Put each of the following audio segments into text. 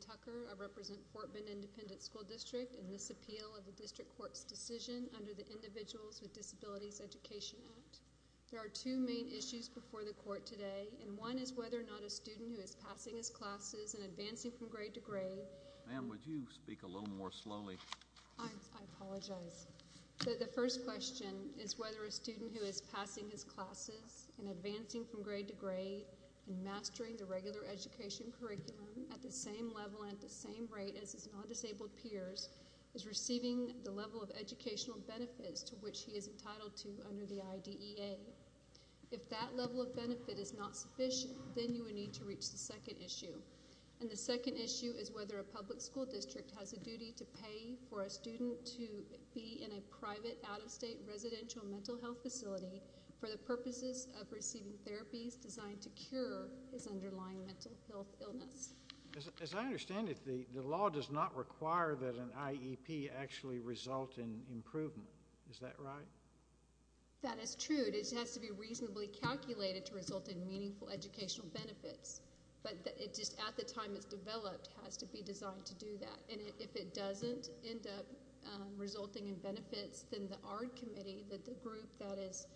Tucker. I represent Fort Bend Independent School District in this appeal of the District Court's decision under the Individuals with Disabilities Education Act. There are two main issues before the court today and one is whether or not a student who is passing his classes and advancing from grade to grade. Ma'am would you speak a little more slowly? I apologize. The first question is whether a student who is passing his classes and advancing from grade to grade and at the same level and the same rate as his non-disabled peers is receiving the level of educational benefits to which he is entitled to under the IDEA. If that level of benefit is not sufficient then you would need to reach the second issue and the second issue is whether a public school district has a duty to pay for a student to be in a private out-of-state residential mental health facility for the purposes of receiving therapies designed to cure his underlying mental health illness. As I understand it, the law does not require that an IEP actually result in improvement. Is that right? That is true. It has to be reasonably calculated to result in meaningful educational benefits but it just at the time it's developed has to be designed to do that and if it doesn't end up resulting in benefits then the ARD committee that the group that is,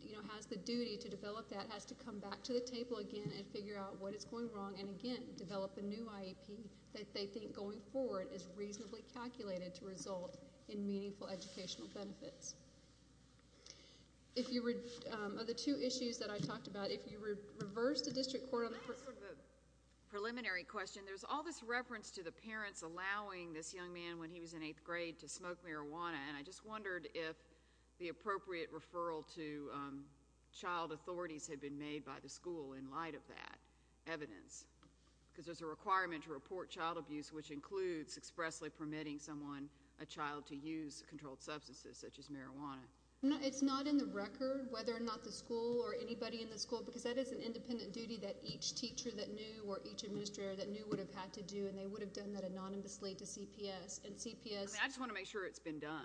you know, has the duty to develop that has to come back to the table again and figure out what is going wrong and again develop a new IEP that they think going forward is reasonably calculated to result in meaningful educational benefits. If you would, of the two issues that I talked about, if you reverse the district court on the preliminary question there's all this reference to the parents allowing this young man when he was in eighth grade to smoke marijuana and I just wondered if the appropriate referral to child authorities had been made by the school in light of that evidence because there's a requirement to report child abuse which includes expressly permitting someone a child to use controlled substances such as marijuana. It's not in the record whether or not the school or anybody in the school because that is an independent duty that each teacher that knew or each administrator that knew would have had to do and they would have done that anonymously to CPS and CPS... I just want to make sure it's been done.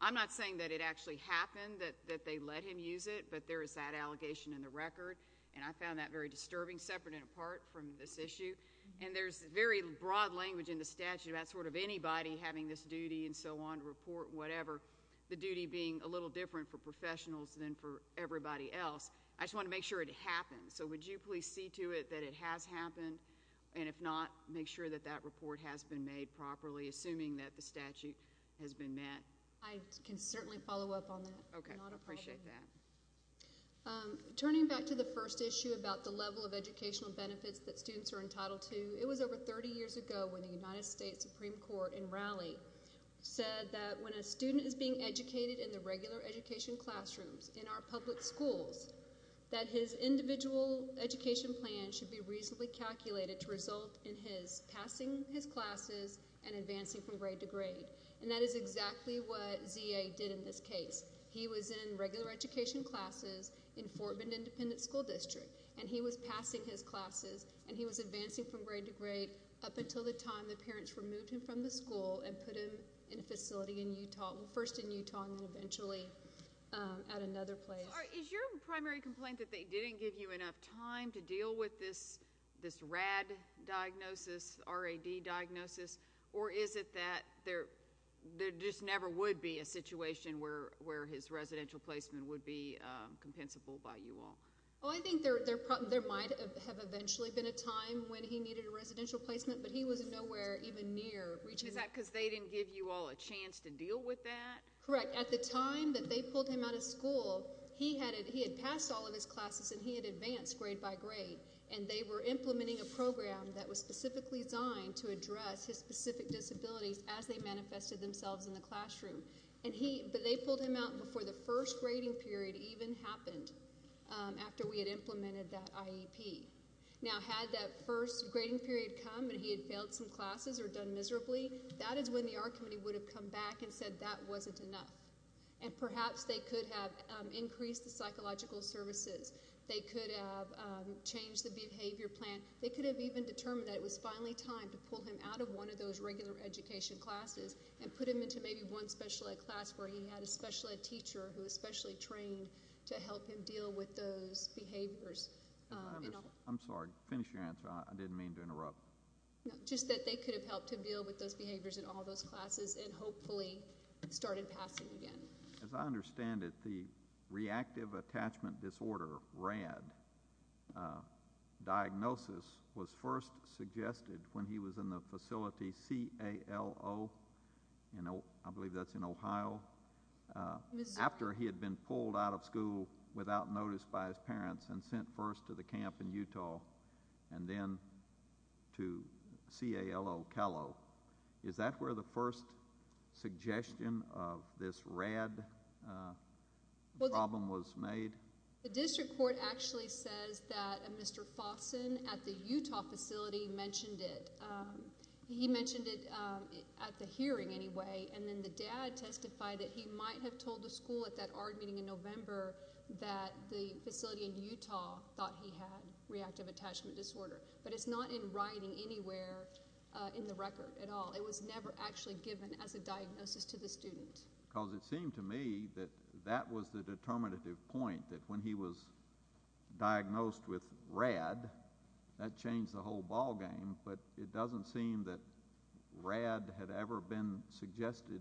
I'm not saying that it actually happened that they let him use it but there is that allegation in the record and I found that very disturbing separate and apart from this issue and there's very broad language in the statute about sort of anybody having this duty and so on report whatever the duty being a little different for professionals than for everybody else. I just want to make sure it happens so would you please see to it that it has happened and if not make sure that that report has been made properly assuming that the statute has been met. I can certainly follow up on that. Okay, I appreciate that. Turning back to the first issue about the level of educational benefits that students are entitled to, it was over 30 years ago when the United States Supreme Court in Raleigh said that when a student is being educated in the regular education classrooms in our public schools that his individual education plan should be reasonably calculated to result in his passing his classes and advancing from grade to grade and that is exactly what happened in this case. He was in regular education classes in Fort Bend Independent School District and he was passing his classes and he was advancing from grade to grade up until the time the parents removed him from the school and put him in a facility in Utah, first in Utah and eventually at another place. Is your primary complaint that they didn't give you enough time to deal with this this RAD diagnosis, R-A-D diagnosis or is it that there there just never would be a situation where where his residential placement would be compensable by you all? Oh, I think there might have eventually been a time when he needed a residential placement but he was nowhere even near reaching. Is that because they didn't give you all a chance to deal with that? Correct. At the time that they pulled him out of school, he had passed all of his classes and he had advanced grade by grade and they were implementing a program that was specifically designed to address his specific disabilities as they manifested themselves in the classroom and he but they pulled him out before the first grading period even happened after we had implemented that IEP. Now had that first grading period come and he had failed some classes or done miserably, that is when the art committee would have come back and said that wasn't enough and perhaps they could have increased the psychological services, they could have changed the behavior plan, they could have even determined that it was finally time to pull him out of one of those regular education classes and put him into maybe one special ed class where he had a special ed teacher who especially trained to help him deal with those behaviors. I'm sorry, finish your answer. I didn't mean to interrupt. Just that they could have helped him deal with those behaviors in all those classes and hopefully started passing again. As I understand it, the reactive attachment disorder, RAD, diagnosis was first suggested when he was in the facility C-A-L-O, you know, I believe that's in Ohio, after he had been pulled out of school without notice by his parents and sent first to the camp in Utah and then to C-A-L-O, Cal-O. Is that where the first suggestion of this RAD problem was made? The district court actually says that Mr. Fawson at the Utah facility mentioned it. He mentioned it at the hearing anyway and then the dad testified that he might have told the school at that RAD meeting in November that the facility in Utah thought he had reactive attachment disorder, but it's not in writing anywhere in the record at all. It was never actually given as a diagnosis to the student. Because it seemed to me that that was the determinative point, that when he was diagnosed with RAD, that changed the whole ballgame, but it doesn't seem that RAD had ever been suggested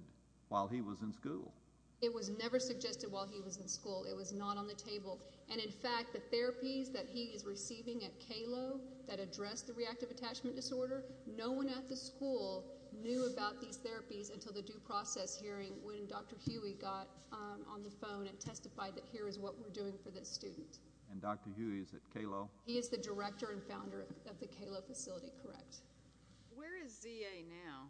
while he was in school. It was never suggested while he was in school. It was not on the table and in fact the therapies that he is receiving at C-A-L-O that address the reactive attachment disorder, no one at the school knew about these therapies until the due process hearing when Dr. Huey got on the phone and testified that here is what we're doing for this student. And Dr. Huey is at C-A-L-O? He is the director and founder of the C-A-L-O facility, correct. Where is Z-A now?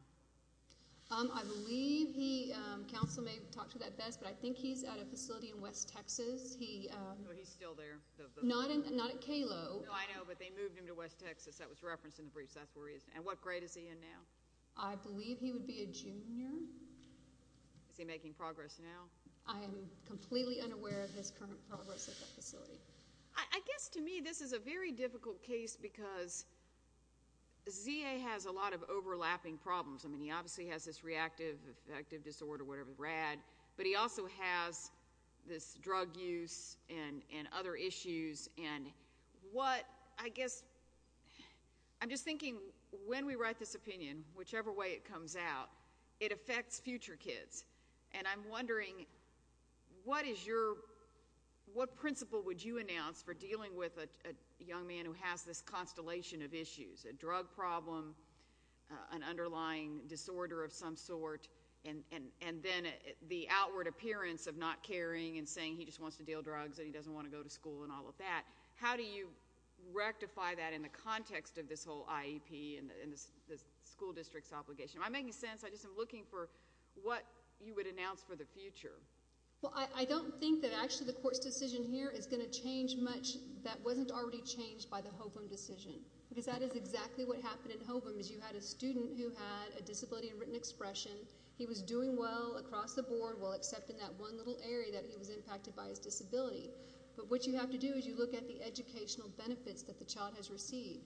I believe he, counsel may talk to that best, but I think he's at a facility in West Texas. He's still there. Not at C-A-L-O. I know, but they moved him to West Texas. That was referenced in the briefs, that's where he is. And what grade is he in now? I believe he would be a Is he making progress now? I am completely unaware of his current progress at that facility. I guess to me this is a very difficult case because Z-A has a lot of overlapping problems. I mean, he obviously has this reactive affective disorder, whatever, RAD, but he also has this drug use and other issues and what, I guess, I'm just wondering, what is your, what principle would you announce for dealing with a young man who has this constellation of issues? A drug problem, an underlying disorder of some sort, and then the outward appearance of not caring and saying he just wants to deal drugs and he doesn't want to go to school and all of that. How do you rectify that in the context of this whole IEP and the school district's obligation? Am I making sense? I just am looking for what you would announce for the future. Well, I don't think that actually the court's decision here is going to change much that wasn't already changed by the Hovum decision because that is exactly what happened in Hovum is you had a student who had a disability and written expression. He was doing well across the board while accepting that one little area that he was impacted by his disability, but what you have to do is you look at the educational benefits that the child has received.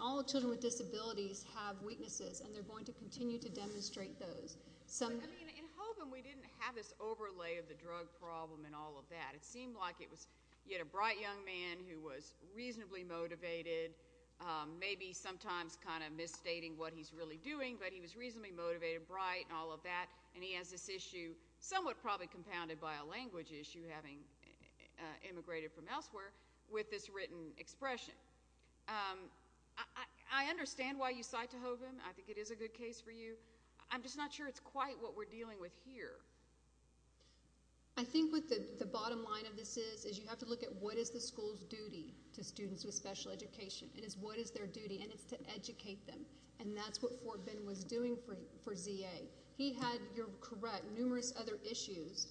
All children with disabilities have weaknesses and they're going to continue to demonstrate those. In Hovum, we didn't have this overlay of the drug problem and all of that. It seemed like it was you had a bright young man who was reasonably motivated, maybe sometimes kind of misstating what he's really doing, but he was reasonably motivated, bright, and all of that, and he has this issue somewhat probably compounded by a language issue having immigrated from elsewhere with this written expression. I understand why you cite to Hovum. I think it is a good case for you. I'm just not sure it's quite what we're dealing with here. I think what the bottom line of this is is you have to look at what is the school's duty to students with special education and it's what is their duty and it's to educate them and that's what Fort Bend was doing for Z.A. He had, you're correct, numerous other issues,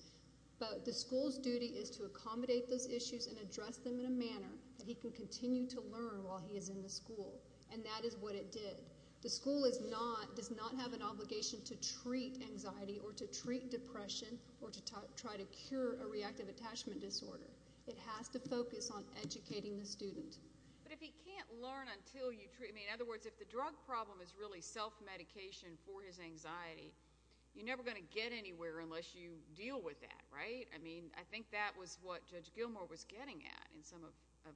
but the school's duty is to accommodate those issues and address them in a manner that he can continue to learn while he is in the school and that is what it did. The school is not, does not have an obligation to treat anxiety or to treat depression or to try to cure a reactive attachment disorder. It has to focus on educating the student. But if he can't learn until you treat, I mean, in other words, if the drug problem is really self-medication for his anxiety, you're never going to get anywhere unless you deal with that, right? I mean, I think that was what Judge Gilmour was getting at in some of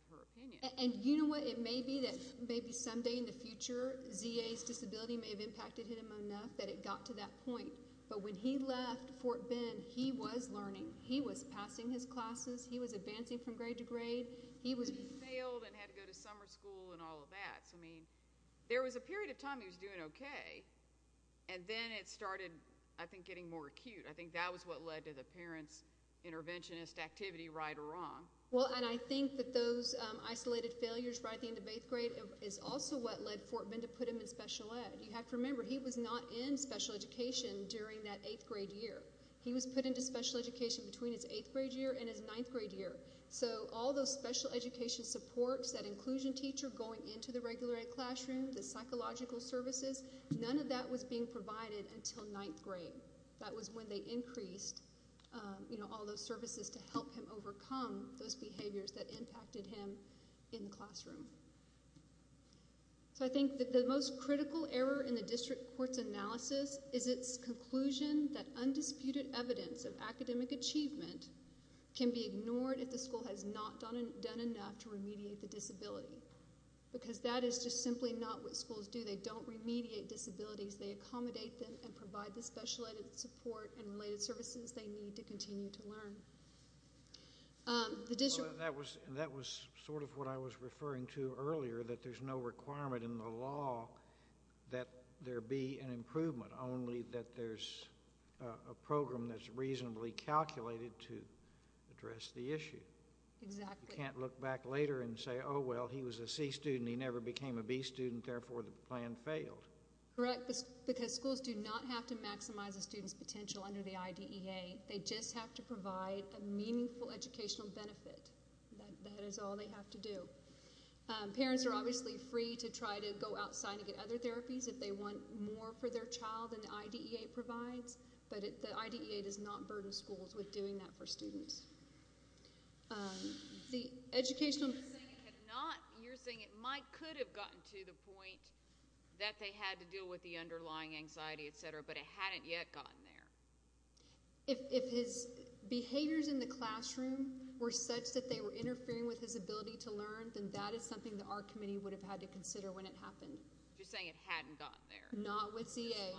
her opinions. And you know what, it may be that maybe someday in the future Z.A.'s disability may have impacted him enough that it got to that point, but when he left Fort Bend, he was learning. He was passing his classes. He was advancing from grade to grade. He was... He failed and had to go to summer school and all of that. So, I mean, there was a period of time he was doing okay and then it started, I think, getting more acute. I think that was what led to the parents' interventionist activity, right or wrong. Well, and I think that those isolated failures right at the end of eighth grade is also what led Fort Bend to put him in special ed. You have to remember, he was not in special education during that eighth grade year. He was put into special education between his eighth grade year and his ninth grade year. So, all those special education supports, that inclusion teacher going into the regular ed classroom, the psychological services, none of that was being provided until ninth grade. That was when they all those services to help him overcome those behaviors that impacted him in the classroom. So, I think that the most critical error in the district court's analysis is its conclusion that undisputed evidence of academic achievement can be ignored if the school has not done enough to remediate the disability because that is just simply not what schools do. They don't remediate disabilities. They accommodate them and provide the special ed. support and services they need to continue to learn. That was sort of what I was referring to earlier, that there's no requirement in the law that there be an improvement, only that there's a program that's reasonably calculated to address the issue. You can't look back later and say, oh well, he was a C student, he never became a B student, therefore the plan failed. Correct, because schools do not have to maximize a student's potential under the IDEA. They just have to provide a meaningful educational benefit. That is all they have to do. Parents are obviously free to try to go outside and get other therapies if they want more for their child than the IDEA provides, but the IDEA does not burden schools with doing that for students. The educational... You're saying it might could have gotten to the point that they had to deal with the underlying anxiety, etc., but it hadn't yet gotten there. If his behaviors in the classroom were such that they were interfering with his ability to learn, then that is something that our committee would have had to consider when it happened. You're saying it hadn't gotten there. Not with Z.A.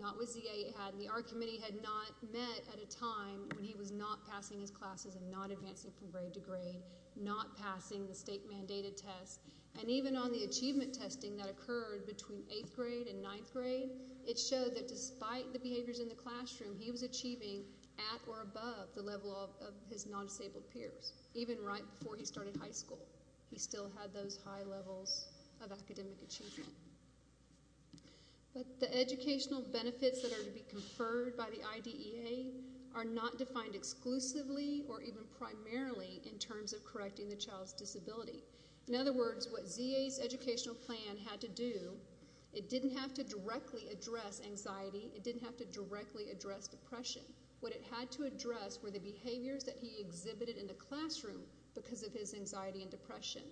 Not with Z.A. it hadn't. Our committee had not met at a time when he was not passing his classes and not advancing from grade to grade, not passing the state-mandated tests, and even on the achievement testing that it showed that despite the behaviors in the classroom, he was achieving at or above the level of his non-disabled peers, even right before he started high school. He still had those high levels of academic achievement. But the educational benefits that are to be conferred by the IDEA are not defined exclusively or even primarily in terms of correcting the child's disability. In other words, what Z.A.'s educational plan had to do, it didn't have to directly address anxiety. It didn't have to directly address depression. What it had to address were the behaviors that he exhibited in the classroom because of his anxiety and depression,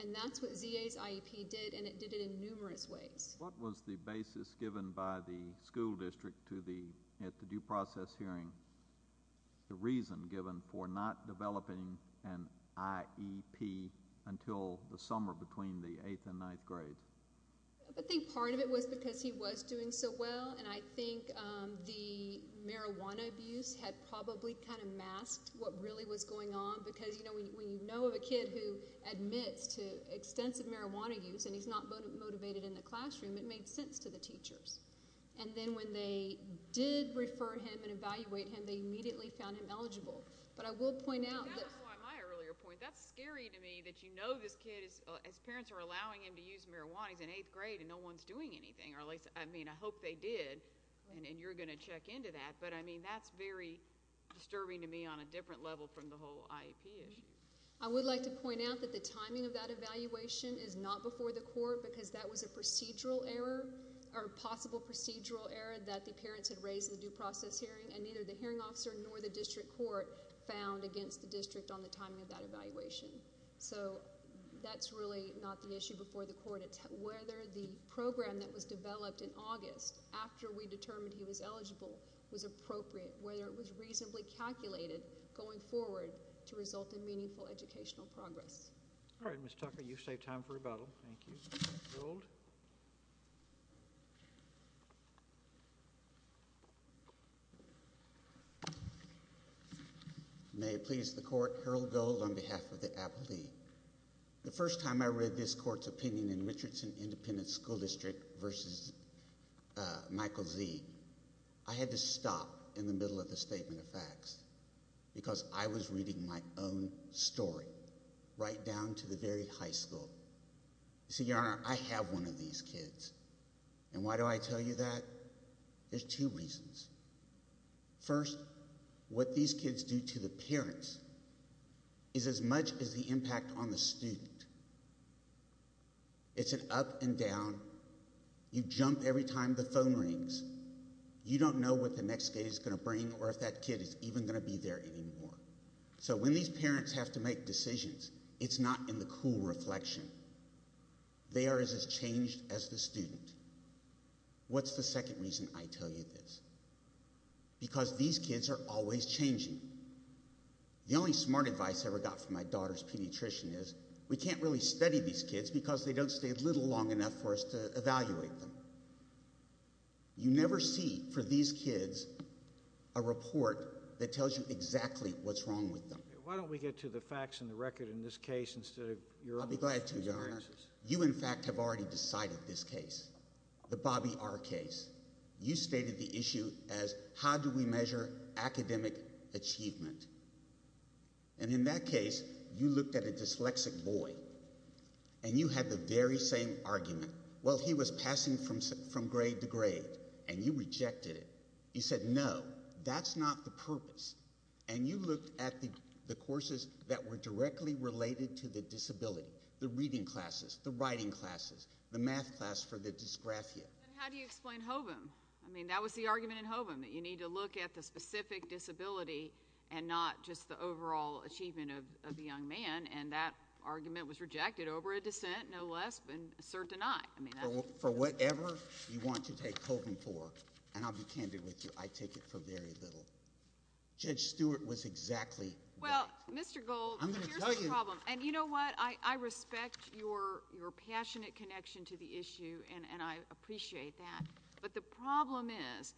and that's what Z.A.'s IEP did, and it did it in numerous ways. What was the basis given by the school district at the due process hearing, the between the 8th and 9th grade? I think part of it was because he was doing so well and I think the marijuana abuse had probably kind of masked what really was going on because, you know, when you know of a kid who admits to extensive marijuana use and he's not motivated in the classroom, it made sense to the teachers. And then when they did refer him and evaluate him, they immediately found him eligible. But I would like to point out that the timing of that evaluation is not before the court because that was a procedural error or possible procedural error that the parents had raised in the due court found against the district on the timing of that evaluation. So that's really not the issue before the court. It's whether the program that was developed in August after we determined he was eligible was appropriate, whether it was reasonably calculated going forward to result in meaningful educational progress. All right, Ms. Tucker, you've saved time for rebuttal. Thank you. May it please the court, Harold Gold on behalf of the Appalachee. The first time I read this court's opinion in Richardson Independent School District versus Michael Z, I had to stop in the middle of the statement of facts because I was reading my own story right down to the very high school. See, your honor, I have one of these kids. And why do I tell you that? There's two reasons. First, what these kids do to the parents is as much as the impact on the student. It's an up and down. You jump every time the phone rings. You don't know what the next day is going to bring or if that kid is even going to be there anymore. So when these parents have to make decisions, it's not in the cool reflection. They are as changed as the student. What's the second reason I tell you this? Because these kids are always changing. The only smart advice I ever got from my daughter's pediatrician is we can't really study these kids because they don't stay a little long enough for us to evaluate them. You never see for these kids a report that tells you exactly what's wrong with them. Why don't we get to the facts and the record in this case instead of your own experiences? I'll be glad to, your honor. You, in fact, have already decided this case, the Bobby R. case. You stated the issue as how do we measure academic achievement. And in that case, you looked at a dyslexic boy and you had the very same argument. Well, he was passing from grade to grade and you rejected it. You said, no, that's not the purpose. And you looked at the courses that were directly related to the disability, the reading classes, the writing classes, the math class for the dysgraphia. And how do you explain HOVM? I mean, that was the argument in HOVM, that you need to look at the specific disability and not just the overall achievement of the young man. And that argument was rejected over a dissent, no less, than cert to not. For whatever you want to take HOVM for, and I'll be candid with you, I take it for very little. Judge Stewart was exactly right. Well, Mr. Gold, here's the problem. And you know what? I respect your passionate connection to the issue, and I appreciate that. But the problem is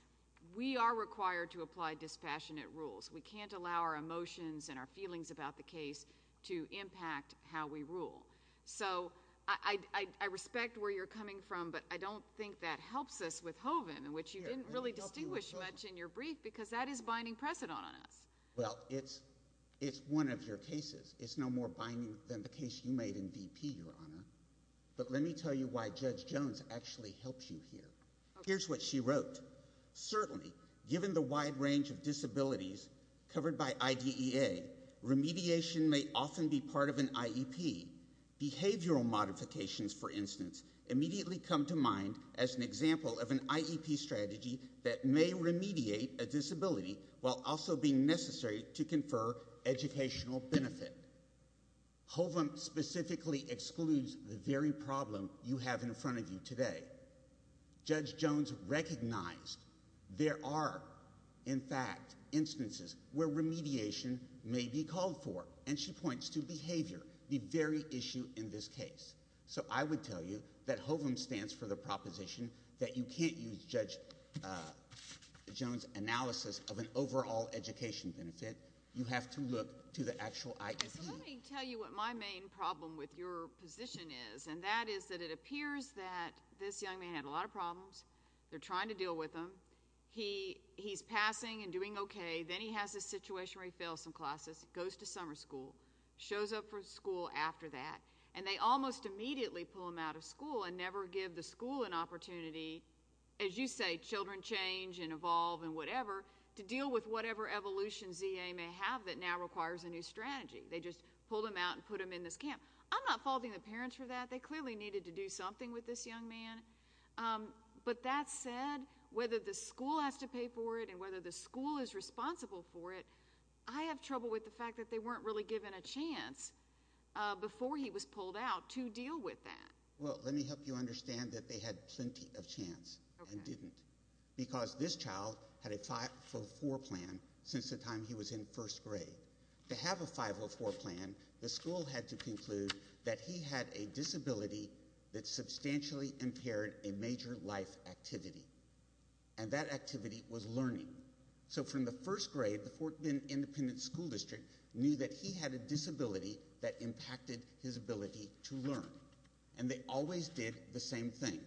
we are required to apply dispassionate rules. We can't allow our emotions and our feelings about the case to impact how we rule. So I respect where you're coming from, but I don't think that helps us with HOVM, which you didn't really distinguish much in your brief, because that is binding precedent on us. Well, it's one of your cases. It's no more binding than the case you made in VP, Your Honor. But let me tell you why Judge Jones actually helps you here. Here's what she wrote. Certainly, given the wide range of disabilities covered by IDEA, remediation may often be part of an IEP. Behavioral modifications, for instance, immediately come to mind as an example of an IEP strategy that may remediate a disability while also being necessary to confer educational benefit. HOVM specifically excludes the very problem you have in front of you today. Judge Jones recognized there are, in fact, instances where remediation may be called for, and she points to behavior, the very issue in this case. So I would tell you that HOVM stands for the proposition that you can't use Judge Jones' analysis of an overall education benefit. You have to look to the actual IEP. So let me tell you what my main problem with your position is, and that is that it appears that this young man had a lot of problems. They're trying to deal with him. He's passing and doing okay. Then he has this situation where he fails some classes, goes to summer school, shows up for school after that, and they almost immediately pull him out of school and never give the school an opportunity, as you say, children change and evolve and whatever, to deal with whatever evolution ZA may have that now requires a new strategy. They just pulled him out and put him in this camp. I'm not faulting the parents for that. They clearly needed to do something with this young man. But that said, whether the school has to pay for it and whether the school is responsible for it, I have trouble with the fact that they weren't really given a chance before he was pulled out to deal with that. Well, let me help you understand that they had plenty of chance and didn't because this child had a 504 plan since the time he was in first grade. To have a 504 plan, the school had to conclude that he had a disability that substantially impaired a major life activity, and that activity was learning. So from the first grade, the Fort Bend Independent School District knew that he had a disability that impacted his ability to learn. And they always did the same thing.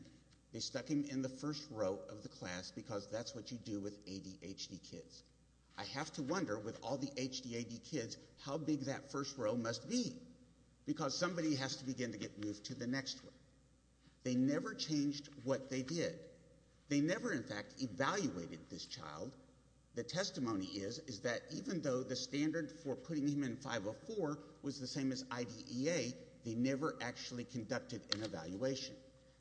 They stuck him in the first row of the class because that's what you do with ADHD kids. I have to wonder with all the ADHD kids how big that first row must be because somebody has to begin to get moved to the next one. They never changed what they did. They never, in fact, evaluated this child. The testimony is that even though the standard for putting him in 504 was the same as IDEA, they never actually conducted an evaluation.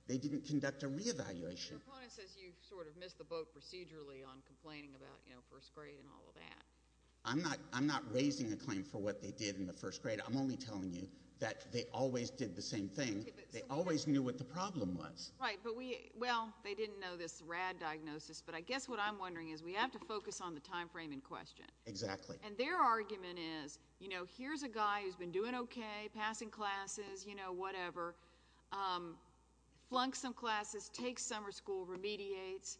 They didn't conduct a reevaluation. Your opponent says you sort of missed the boat procedurally on complaining about first grade and all of that. I'm not raising a claim for what they did in the first grade. I'm only telling you that they always did the same thing. They always knew what the problem was. Well, they didn't know this RAD diagnosis, but I guess what I'm wondering is we have to focus on the time frame in question. Exactly. And their argument is, you know, here's a guy who's been doing okay, passing classes, you know, whatever, flunked some classes, takes summer school, remediates,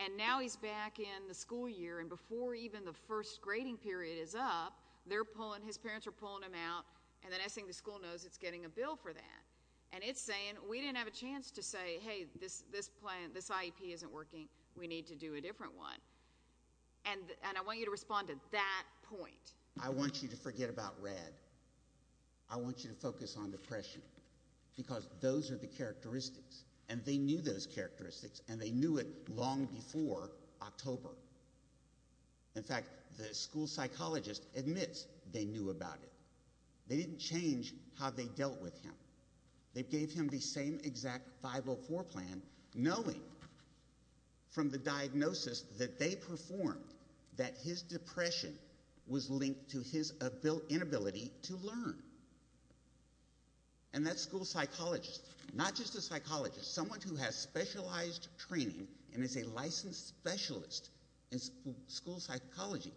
and now he's back in the school year. And before even the first grading period is up, they're pulling, his parents are pulling him out, and the next thing the school knows, it's getting a bill for that. And it's saying we didn't have a chance to say, hey, this plan, this IEP isn't working. We need to do a different one. And I want you to respond to that point. I want you to forget about RAD. I want you to focus on depression because those are the characteristics, and they knew those characteristics, and they knew it long before October. In fact, the school psychologist admits they knew about it. They didn't change how they dealt with him. They gave him the same exact 504 plan, knowing from the diagnosis that they performed that his depression was linked to his inability to learn. And that school psychologist, not just a psychologist, someone who has specialized training and is a licensed specialist in school psychology,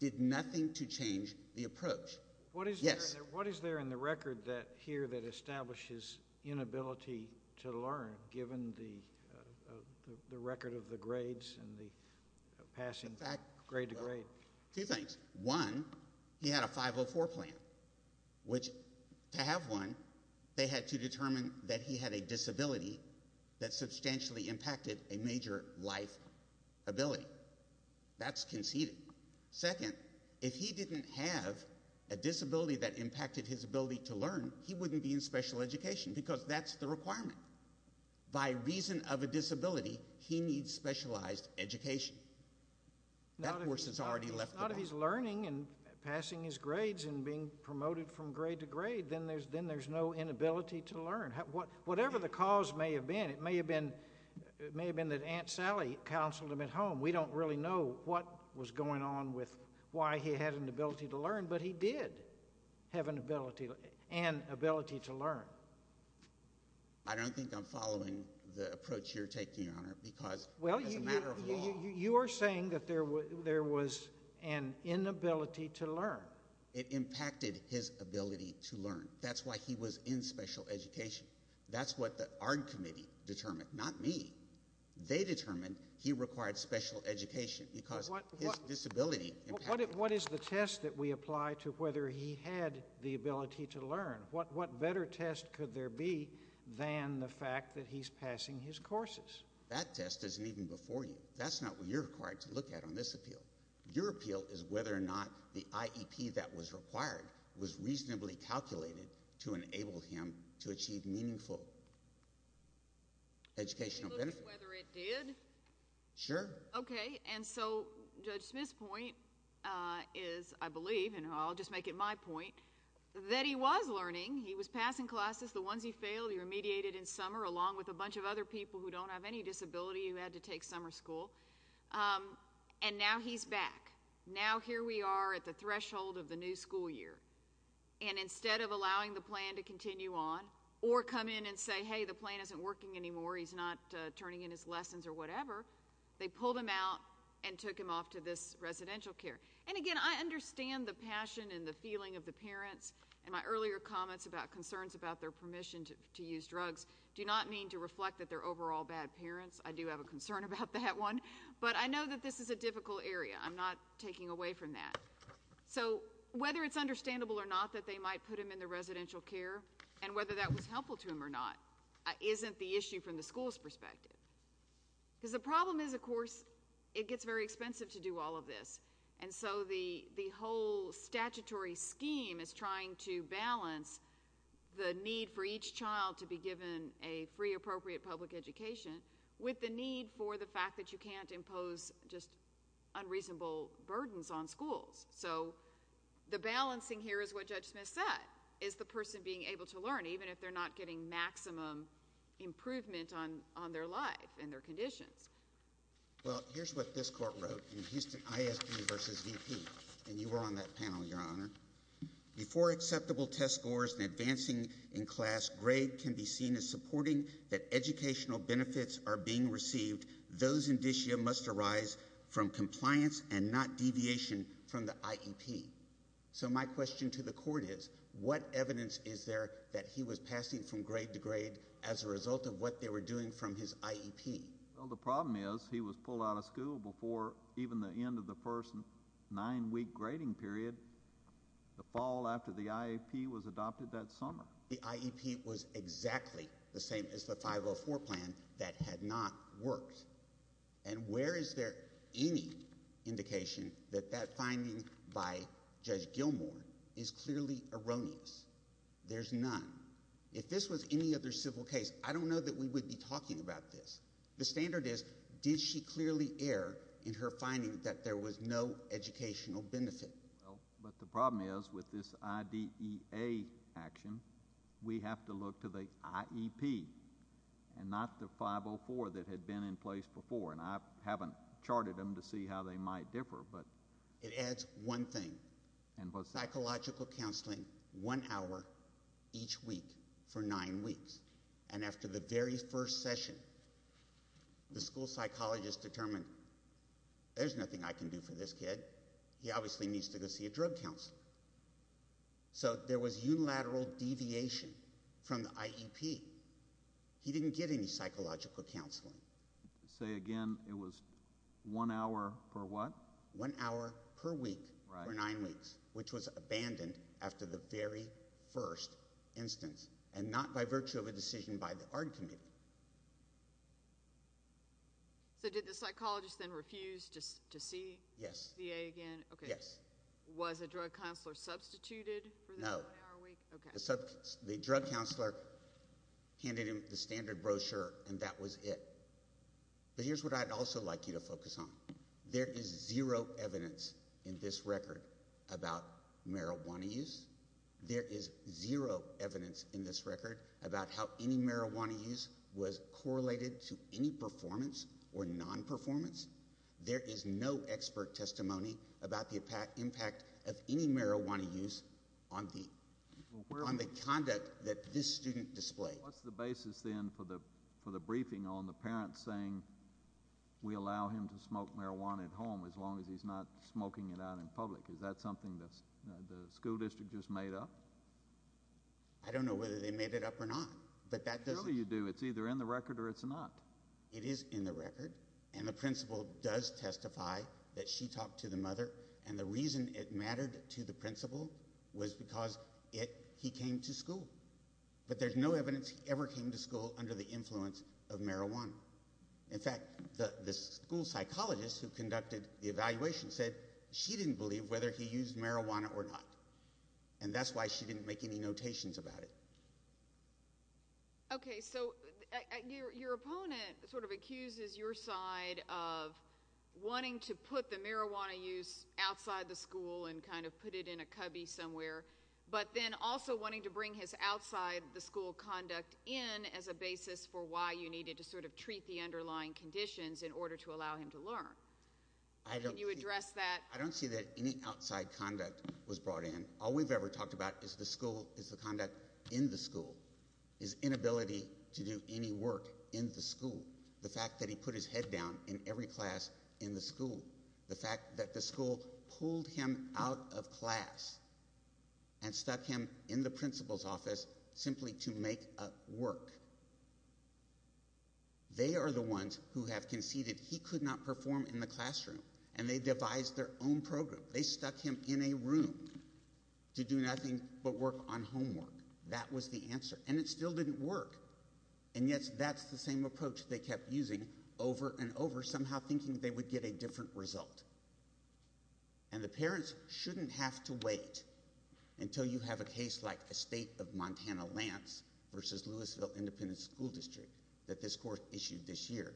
did nothing to change the approach. What is there in the record here that establishes inability to learn, given the record of the grades and the passing grade to grade? Two things. One, he had a 504 plan, which to have one, they had to determine that he had a disability that substantially impacted a major life ability. That's conceded. Second, if he didn't have a disability that impacted his ability to learn, he wouldn't be in special education because that's the requirement. By reason of a disability, he needs specialized education. Not if he's learning and passing his grades and being promoted from grade to grade, then there's no inability to learn. Whatever the cause may have been, it may have been that Aunt Sally counseled him at home. We don't really know what was going on with why he had an inability to learn, but he did have an ability to learn. I don't think I'm following the approach you're taking, Your Honor, because it's a matter of law. You are saying that there was an inability to learn. It impacted his ability to learn. That's why he was in special education. That's what the ARD Committee determined, not me. They determined he required special education because his disability impacted him. What is the test that we apply to whether he had the ability to learn? What better test could there be than the fact that he's passing his courses? That test isn't even before you. That's not what you're required to look at on this appeal. Your appeal is whether or not the IEP that was required was reasonably calculated to enable him to achieve meaningful educational benefits. It looks whether it did. Sure. Okay, and so Judge Smith's point is, I believe, and I'll just make it my point, that he was learning. He was passing classes. The ones he failed, he remediated in summer along with a bunch of other people who don't have any disability who had to take summer school. And now he's back. Now here we are at the threshold of the new school year. And instead of allowing the plan to continue on or come in and say, hey, the plan isn't working anymore, he's not turning in his lessons or whatever, they pulled him out and took him off to this residential care. And, again, I understand the passion and the feeling of the parents. And my earlier comments about concerns about their permission to use drugs do not mean to reflect that they're overall bad parents. I do have a concern about that one. But I know that this is a difficult area. I'm not taking away from that. So whether it's understandable or not that they might put him in the residential care and whether that was helpful to him or not isn't the issue from the school's perspective. Because the problem is, of course, it gets very expensive to do all of this. And so the whole statutory scheme is trying to balance the need for each child to be given a free, appropriate public education with the need for the fact that you can't impose just unreasonable burdens on schools. So the balancing here is what Judge Smith said, is the person being able to learn, even if they're not getting maximum improvement on their life and their conditions. Well, here's what this court wrote in Houston ISB v. VP. And you were on that panel, Your Honor. Before acceptable test scores and advancing in class, grade can be seen as supporting that educational benefits are being received. Those indicia must arise from compliance and not deviation from the IEP. So my question to the court is, what evidence is there that he was passing from grade to grade as a result of what they were doing from his IEP? Well, the problem is he was pulled out of school before even the end of the first nine-week grading period, the fall after the IEP was adopted that summer. The IEP was exactly the same as the 504 plan that had not worked. And where is there any indication that that finding by Judge Gilmour is clearly erroneous? There's none. If this was any other civil case, I don't know that we would be talking about this. The standard is, did she clearly err in her finding that there was no educational benefit? But the problem is with this IDEA action, we have to look to the IEP and not the 504 that had been in place before. And I haven't charted them to see how they might differ. It adds one thing, psychological counseling one hour each week for nine weeks. And after the very first session, the school psychologist determined there's nothing I can do for this kid. He obviously needs to go see a drug counselor. So there was unilateral deviation from the IEP. He didn't get any psychological counseling. Say again, it was one hour per what? One hour per week for nine weeks, which was abandoned after the very first instance, and not by virtue of a decision by the ARD committee. So did the psychologist then refuse to see the DA again? Yes. Was a drug counselor substituted for that one hour a week? No. Okay. The drug counselor handed him the standard brochure, and that was it. But here's what I'd also like you to focus on. There is zero evidence in this record about marijuana use. There is zero evidence in this record about how any marijuana use was correlated to any performance or nonperformance. There is no expert testimony about the impact of any marijuana use on the conduct that this student displayed. What's the basis then for the briefing on the parent saying we allow him to smoke marijuana at home as long as he's not smoking it out in public? Is that something the school district just made up? I don't know whether they made it up or not, but that doesn't – Surely you do. It's either in the record or it's not. It is in the record, and the principal does testify that she talked to the mother, and the reason it mattered to the principal was because he came to school. But there's no evidence he ever came to school under the influence of marijuana. In fact, the school psychologist who conducted the evaluation said she didn't believe whether he used marijuana or not, and that's why she didn't make any notations about it. Okay, so your opponent sort of accuses your side of wanting to put the marijuana use outside the school and kind of put it in a cubby somewhere, but then also wanting to bring his outside the school conduct in as a basis for why you needed to sort of treat the underlying conditions in order to allow him to learn. Can you address that? I don't see that any outside conduct was brought in. All we've ever talked about is the school, is the conduct in the school, his inability to do any work in the school, the fact that he put his head down in every class in the school, the fact that the school pulled him out of class and stuck him in the principal's office simply to make up work. They are the ones who have conceded he could not perform in the classroom, and they devised their own program. They stuck him in a room to do nothing but work on homework. That was the answer, and it still didn't work, and yet that's the same approach they kept using over and over, somehow thinking they would get a different result. And the parents shouldn't have to wait until you have a case like the state of Montana-Lance versus Louisville Independent School District that this court issued this year,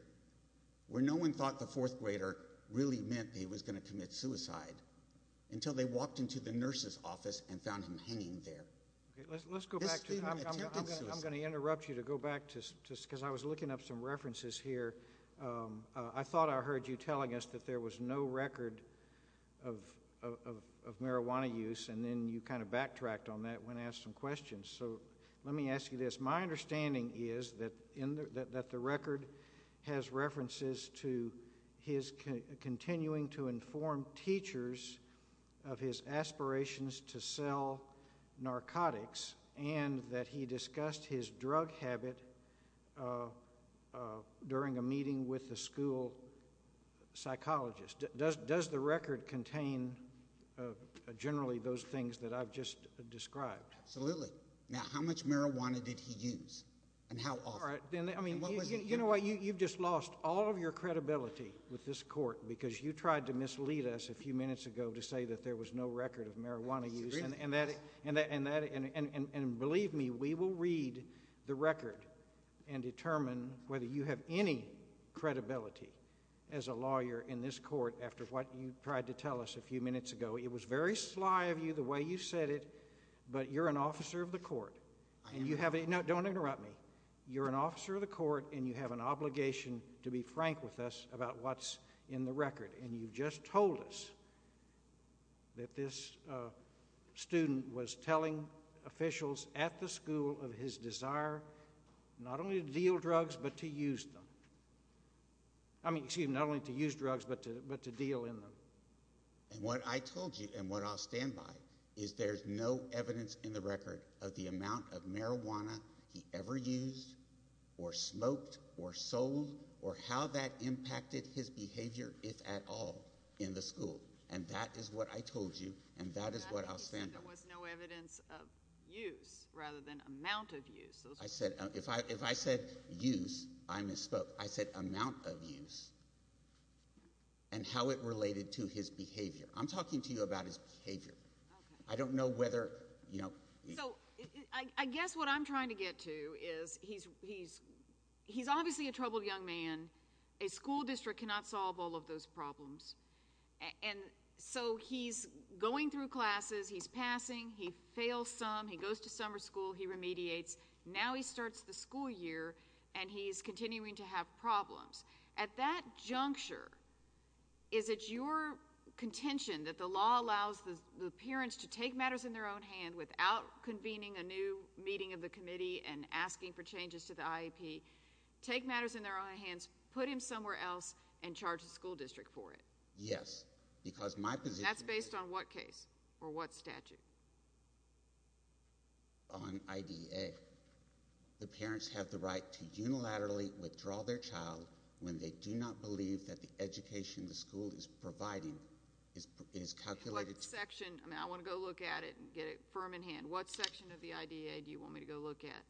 where no one thought the fourth grader really meant that he was going to commit suicide until they walked into the nurse's office and found him hanging there. I'm going to interrupt you to go back just because I was looking up some references here. I thought I heard you telling us that there was no record of marijuana use, and then you kind of backtracked on that when asked some questions, so let me ask you this. My understanding is that the record has references to his continuing to inform teachers of his aspirations to sell narcotics and that he discussed his drug habit during a meeting with the school psychologist. Does the record contain generally those things that I've just described? Absolutely. Now, how much marijuana did he use and how often? You know what? You've just lost all of your credibility with this court because you tried to mislead us a few minutes ago to say that there was no record of marijuana use, and believe me, we will read the record and determine whether you have any credibility as a lawyer in this court after what you tried to tell us a few minutes ago. It was very sly of you the way you said it, but you're an officer of the court. I am. No, don't interrupt me. You're an officer of the court, and you have an obligation to be frank with us about what's in the record, and you've just told us that this student was telling officials at the school of his desire not only to deal drugs but to use them. I mean, excuse me, not only to use drugs but to deal in them. And what I told you and what I'll stand by is there's no evidence in the record of the amount of marijuana he ever used or smoked or sold or how that impacted his behavior, if at all, in the school, and that is what I told you and that is what I'll stand by. You said there was no evidence of use rather than amount of use. If I said use, I misspoke. I said amount of use and how it related to his behavior. I'm talking to you about his behavior. I don't know whether, you know. So I guess what I'm trying to get to is he's obviously a troubled young man. A school district cannot solve all of those problems. And so he's going through classes. He's passing. He fails some. He goes to summer school. He remediates. Now he starts the school year, and he's continuing to have problems. At that juncture, is it your contention that the law allows the parents to take matters in their own hand without convening a new meeting of the committee and asking for changes to the IEP, take matters in their own hands, put him somewhere else, and charge the school district for it? Yes, because my position is that. And that's based on what case or what statute? On IDEA. The parents have the right to unilaterally withdraw their child when they do not believe that the education the school is providing is calculated. What section? I want to go look at it and get it firm in hand. What section of the IDEA do you want me to go look at?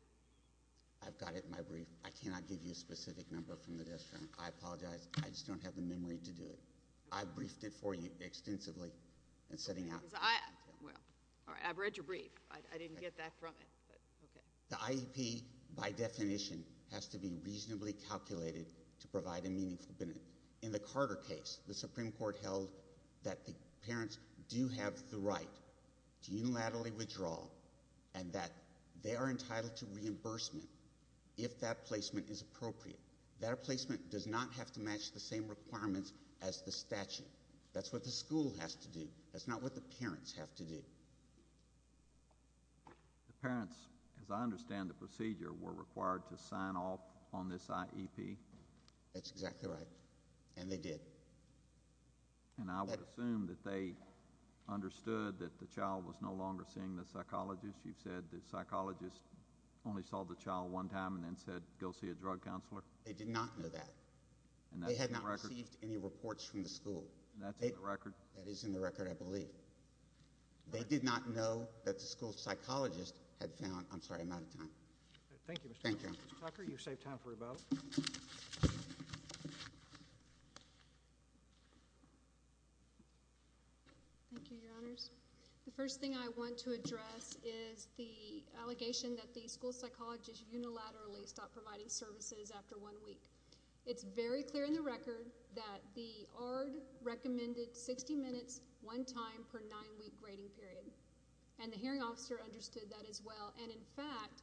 I've got it in my brief. I cannot give you a specific number from the desk. I apologize. I just don't have the memory to do it. I briefed it for you extensively. I read your brief. I didn't get that from it. The IEP, by definition, has to be reasonably calculated to provide a meaningful benefit. In the Carter case, the Supreme Court held that the parents do have the right to unilaterally withdraw and that they are entitled to reimbursement if that placement is appropriate. That placement does not have to match the same requirements as the statute. That's what the school has to do. That's not what the parents have to do. The parents, as I understand the procedure, were required to sign off on this IEP. That's exactly right, and they did. And I would assume that they understood that the child was no longer seeing the psychologist. You've said the psychologist only saw the child one time and then said, Go see a drug counselor. They did not know that. They had not received any reports from the school. That's in the record? That is in the record, I believe. They did not know that the school psychologist had found—I'm sorry, I'm out of time. Thank you, Mr. Tucker. Mr. Tucker, you've saved time for rebuttal. Thank you, Your Honors. The first thing I want to address is the allegation that the school psychologist unilaterally stopped providing services after one week. It's very clear in the record that the ARD recommended 60 minutes one time per nine-week grading period, and the hearing officer understood that as well. And, in fact,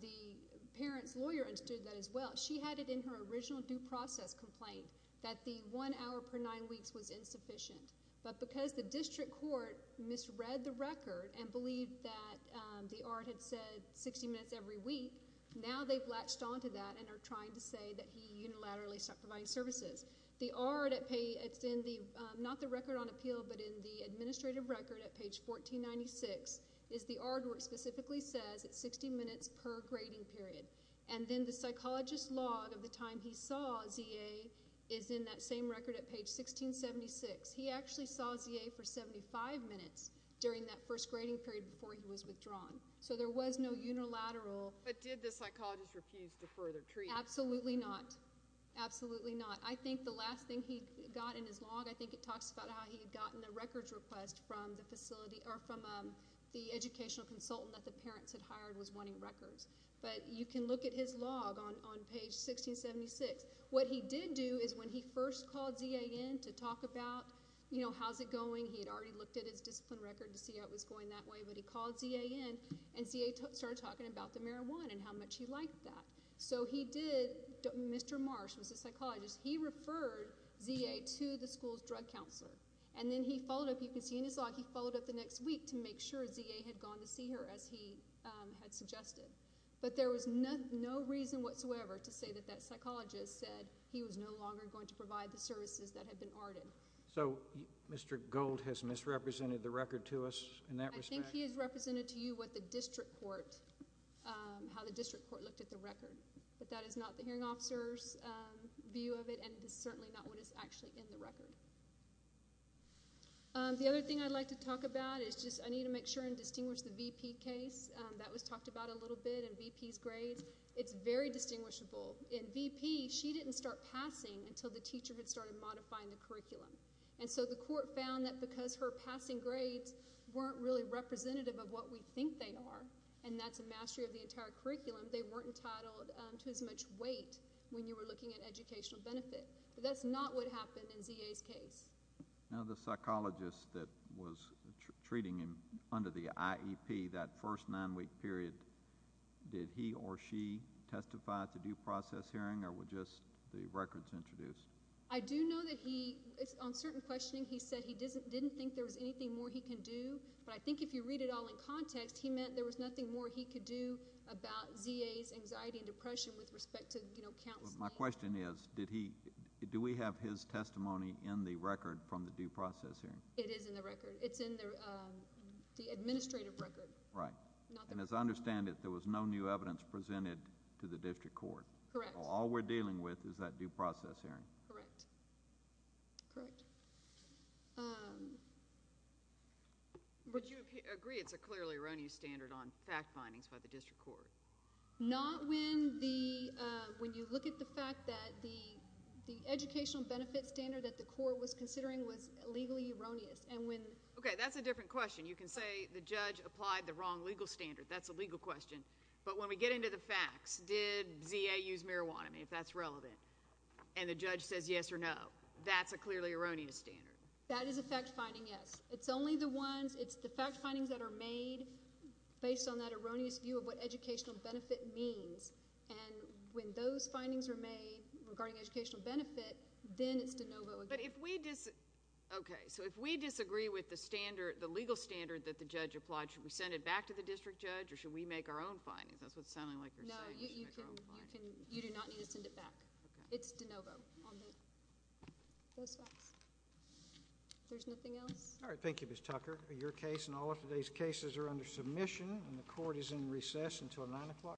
the parent's lawyer understood that as well. She had it in her original due process complaint that the one hour per nine weeks was insufficient. But because the district court misread the record and believed that the ARD had said 60 minutes every week, now they've latched onto that and are trying to say that he unilaterally stopped providing services. The ARD, it's in the—not the record on appeal, but in the administrative record at page 1496, is the ARD where it specifically says it's 60 minutes per grading period. And then the psychologist's log of the time he saw Z.A. is in that same record at page 1676. He actually saw Z.A. for 75 minutes during that first grading period before he was withdrawn. So there was no unilateral— But did the psychologist refuse to further treat? Absolutely not. Absolutely not. I think the last thing he got in his log, I think it talks about how he had gotten the records request from the facility— or from the educational consultant that the parents had hired was wanting records. But you can look at his log on page 1676. What he did do is when he first called Z.A. in to talk about, you know, how's it going, he had already looked at his discipline record to see how it was going that way. But he called Z.A. in, and Z.A. started talking about the marijuana and how much he liked that. So he did—Mr. Marsh was the psychologist. He referred Z.A. to the school's drug counselor. And then he followed up—you can see in his log—he followed up the next week to make sure Z.A. had gone to see her, as he had suggested. But there was no reason whatsoever to say that that psychologist said he was no longer going to provide the services that had been ARDed. So Mr. Gold has misrepresented the record to us in that respect? I think he has represented to you what the district court—how the district court looked at the record. But that is not the hearing officer's view of it, and it is certainly not what is actually in the record. The other thing I'd like to talk about is just—I need to make sure and distinguish the V.P. case. That was talked about a little bit in V.P.'s grades. It's very distinguishable. In V.P., she didn't start passing until the teacher had started modifying the curriculum. And so the court found that because her passing grades weren't really representative of what we think they are, and that's a mastery of the entire curriculum, they weren't entitled to as much weight when you were looking at educational benefit. But that's not what happened in Z.A.'s case. Now, the psychologist that was treating him under the IEP, that first nine-week period, did he or she testify at the due process hearing, or were just the records introduced? I do know that he—on certain questioning, he said he didn't think there was anything more he can do. But I think if you read it all in context, he meant there was nothing more he could do about Z.A.'s anxiety and depression with respect to counseling. My question is, do we have his testimony in the record from the due process hearing? It is in the record. It's in the administrative record. Right. And as I understand it, there was no new evidence presented to the district court. Correct. So all we're dealing with is that due process hearing. Correct. Correct. Would you agree it's a clearly erroneous standard on fact findings by the district court? Not when you look at the fact that the educational benefit standard that the court was considering was legally erroneous. Okay, that's a different question. You can say the judge applied the wrong legal standard. That's a legal question. But when we get into the facts, did Z.A. use marijuana? I mean, if that's relevant. And the judge says yes or no, that's a clearly erroneous standard. That is a fact finding, yes. It's only the ones—it's the fact findings that are made based on that erroneous view of what educational benefit means. And when those findings are made regarding educational benefit, then it's de novo. But if we—okay, so if we disagree with the standard, the legal standard that the judge applied, should we send it back to the district judge or should we make our own findings? That's what it's sounding like you're saying. No, you do not need to send it back. It's de novo on the facts. There's nothing else? All right, thank you, Ms. Tucker. Your case and all of today's cases are under submission, and the court is in recess until 9 o'clock.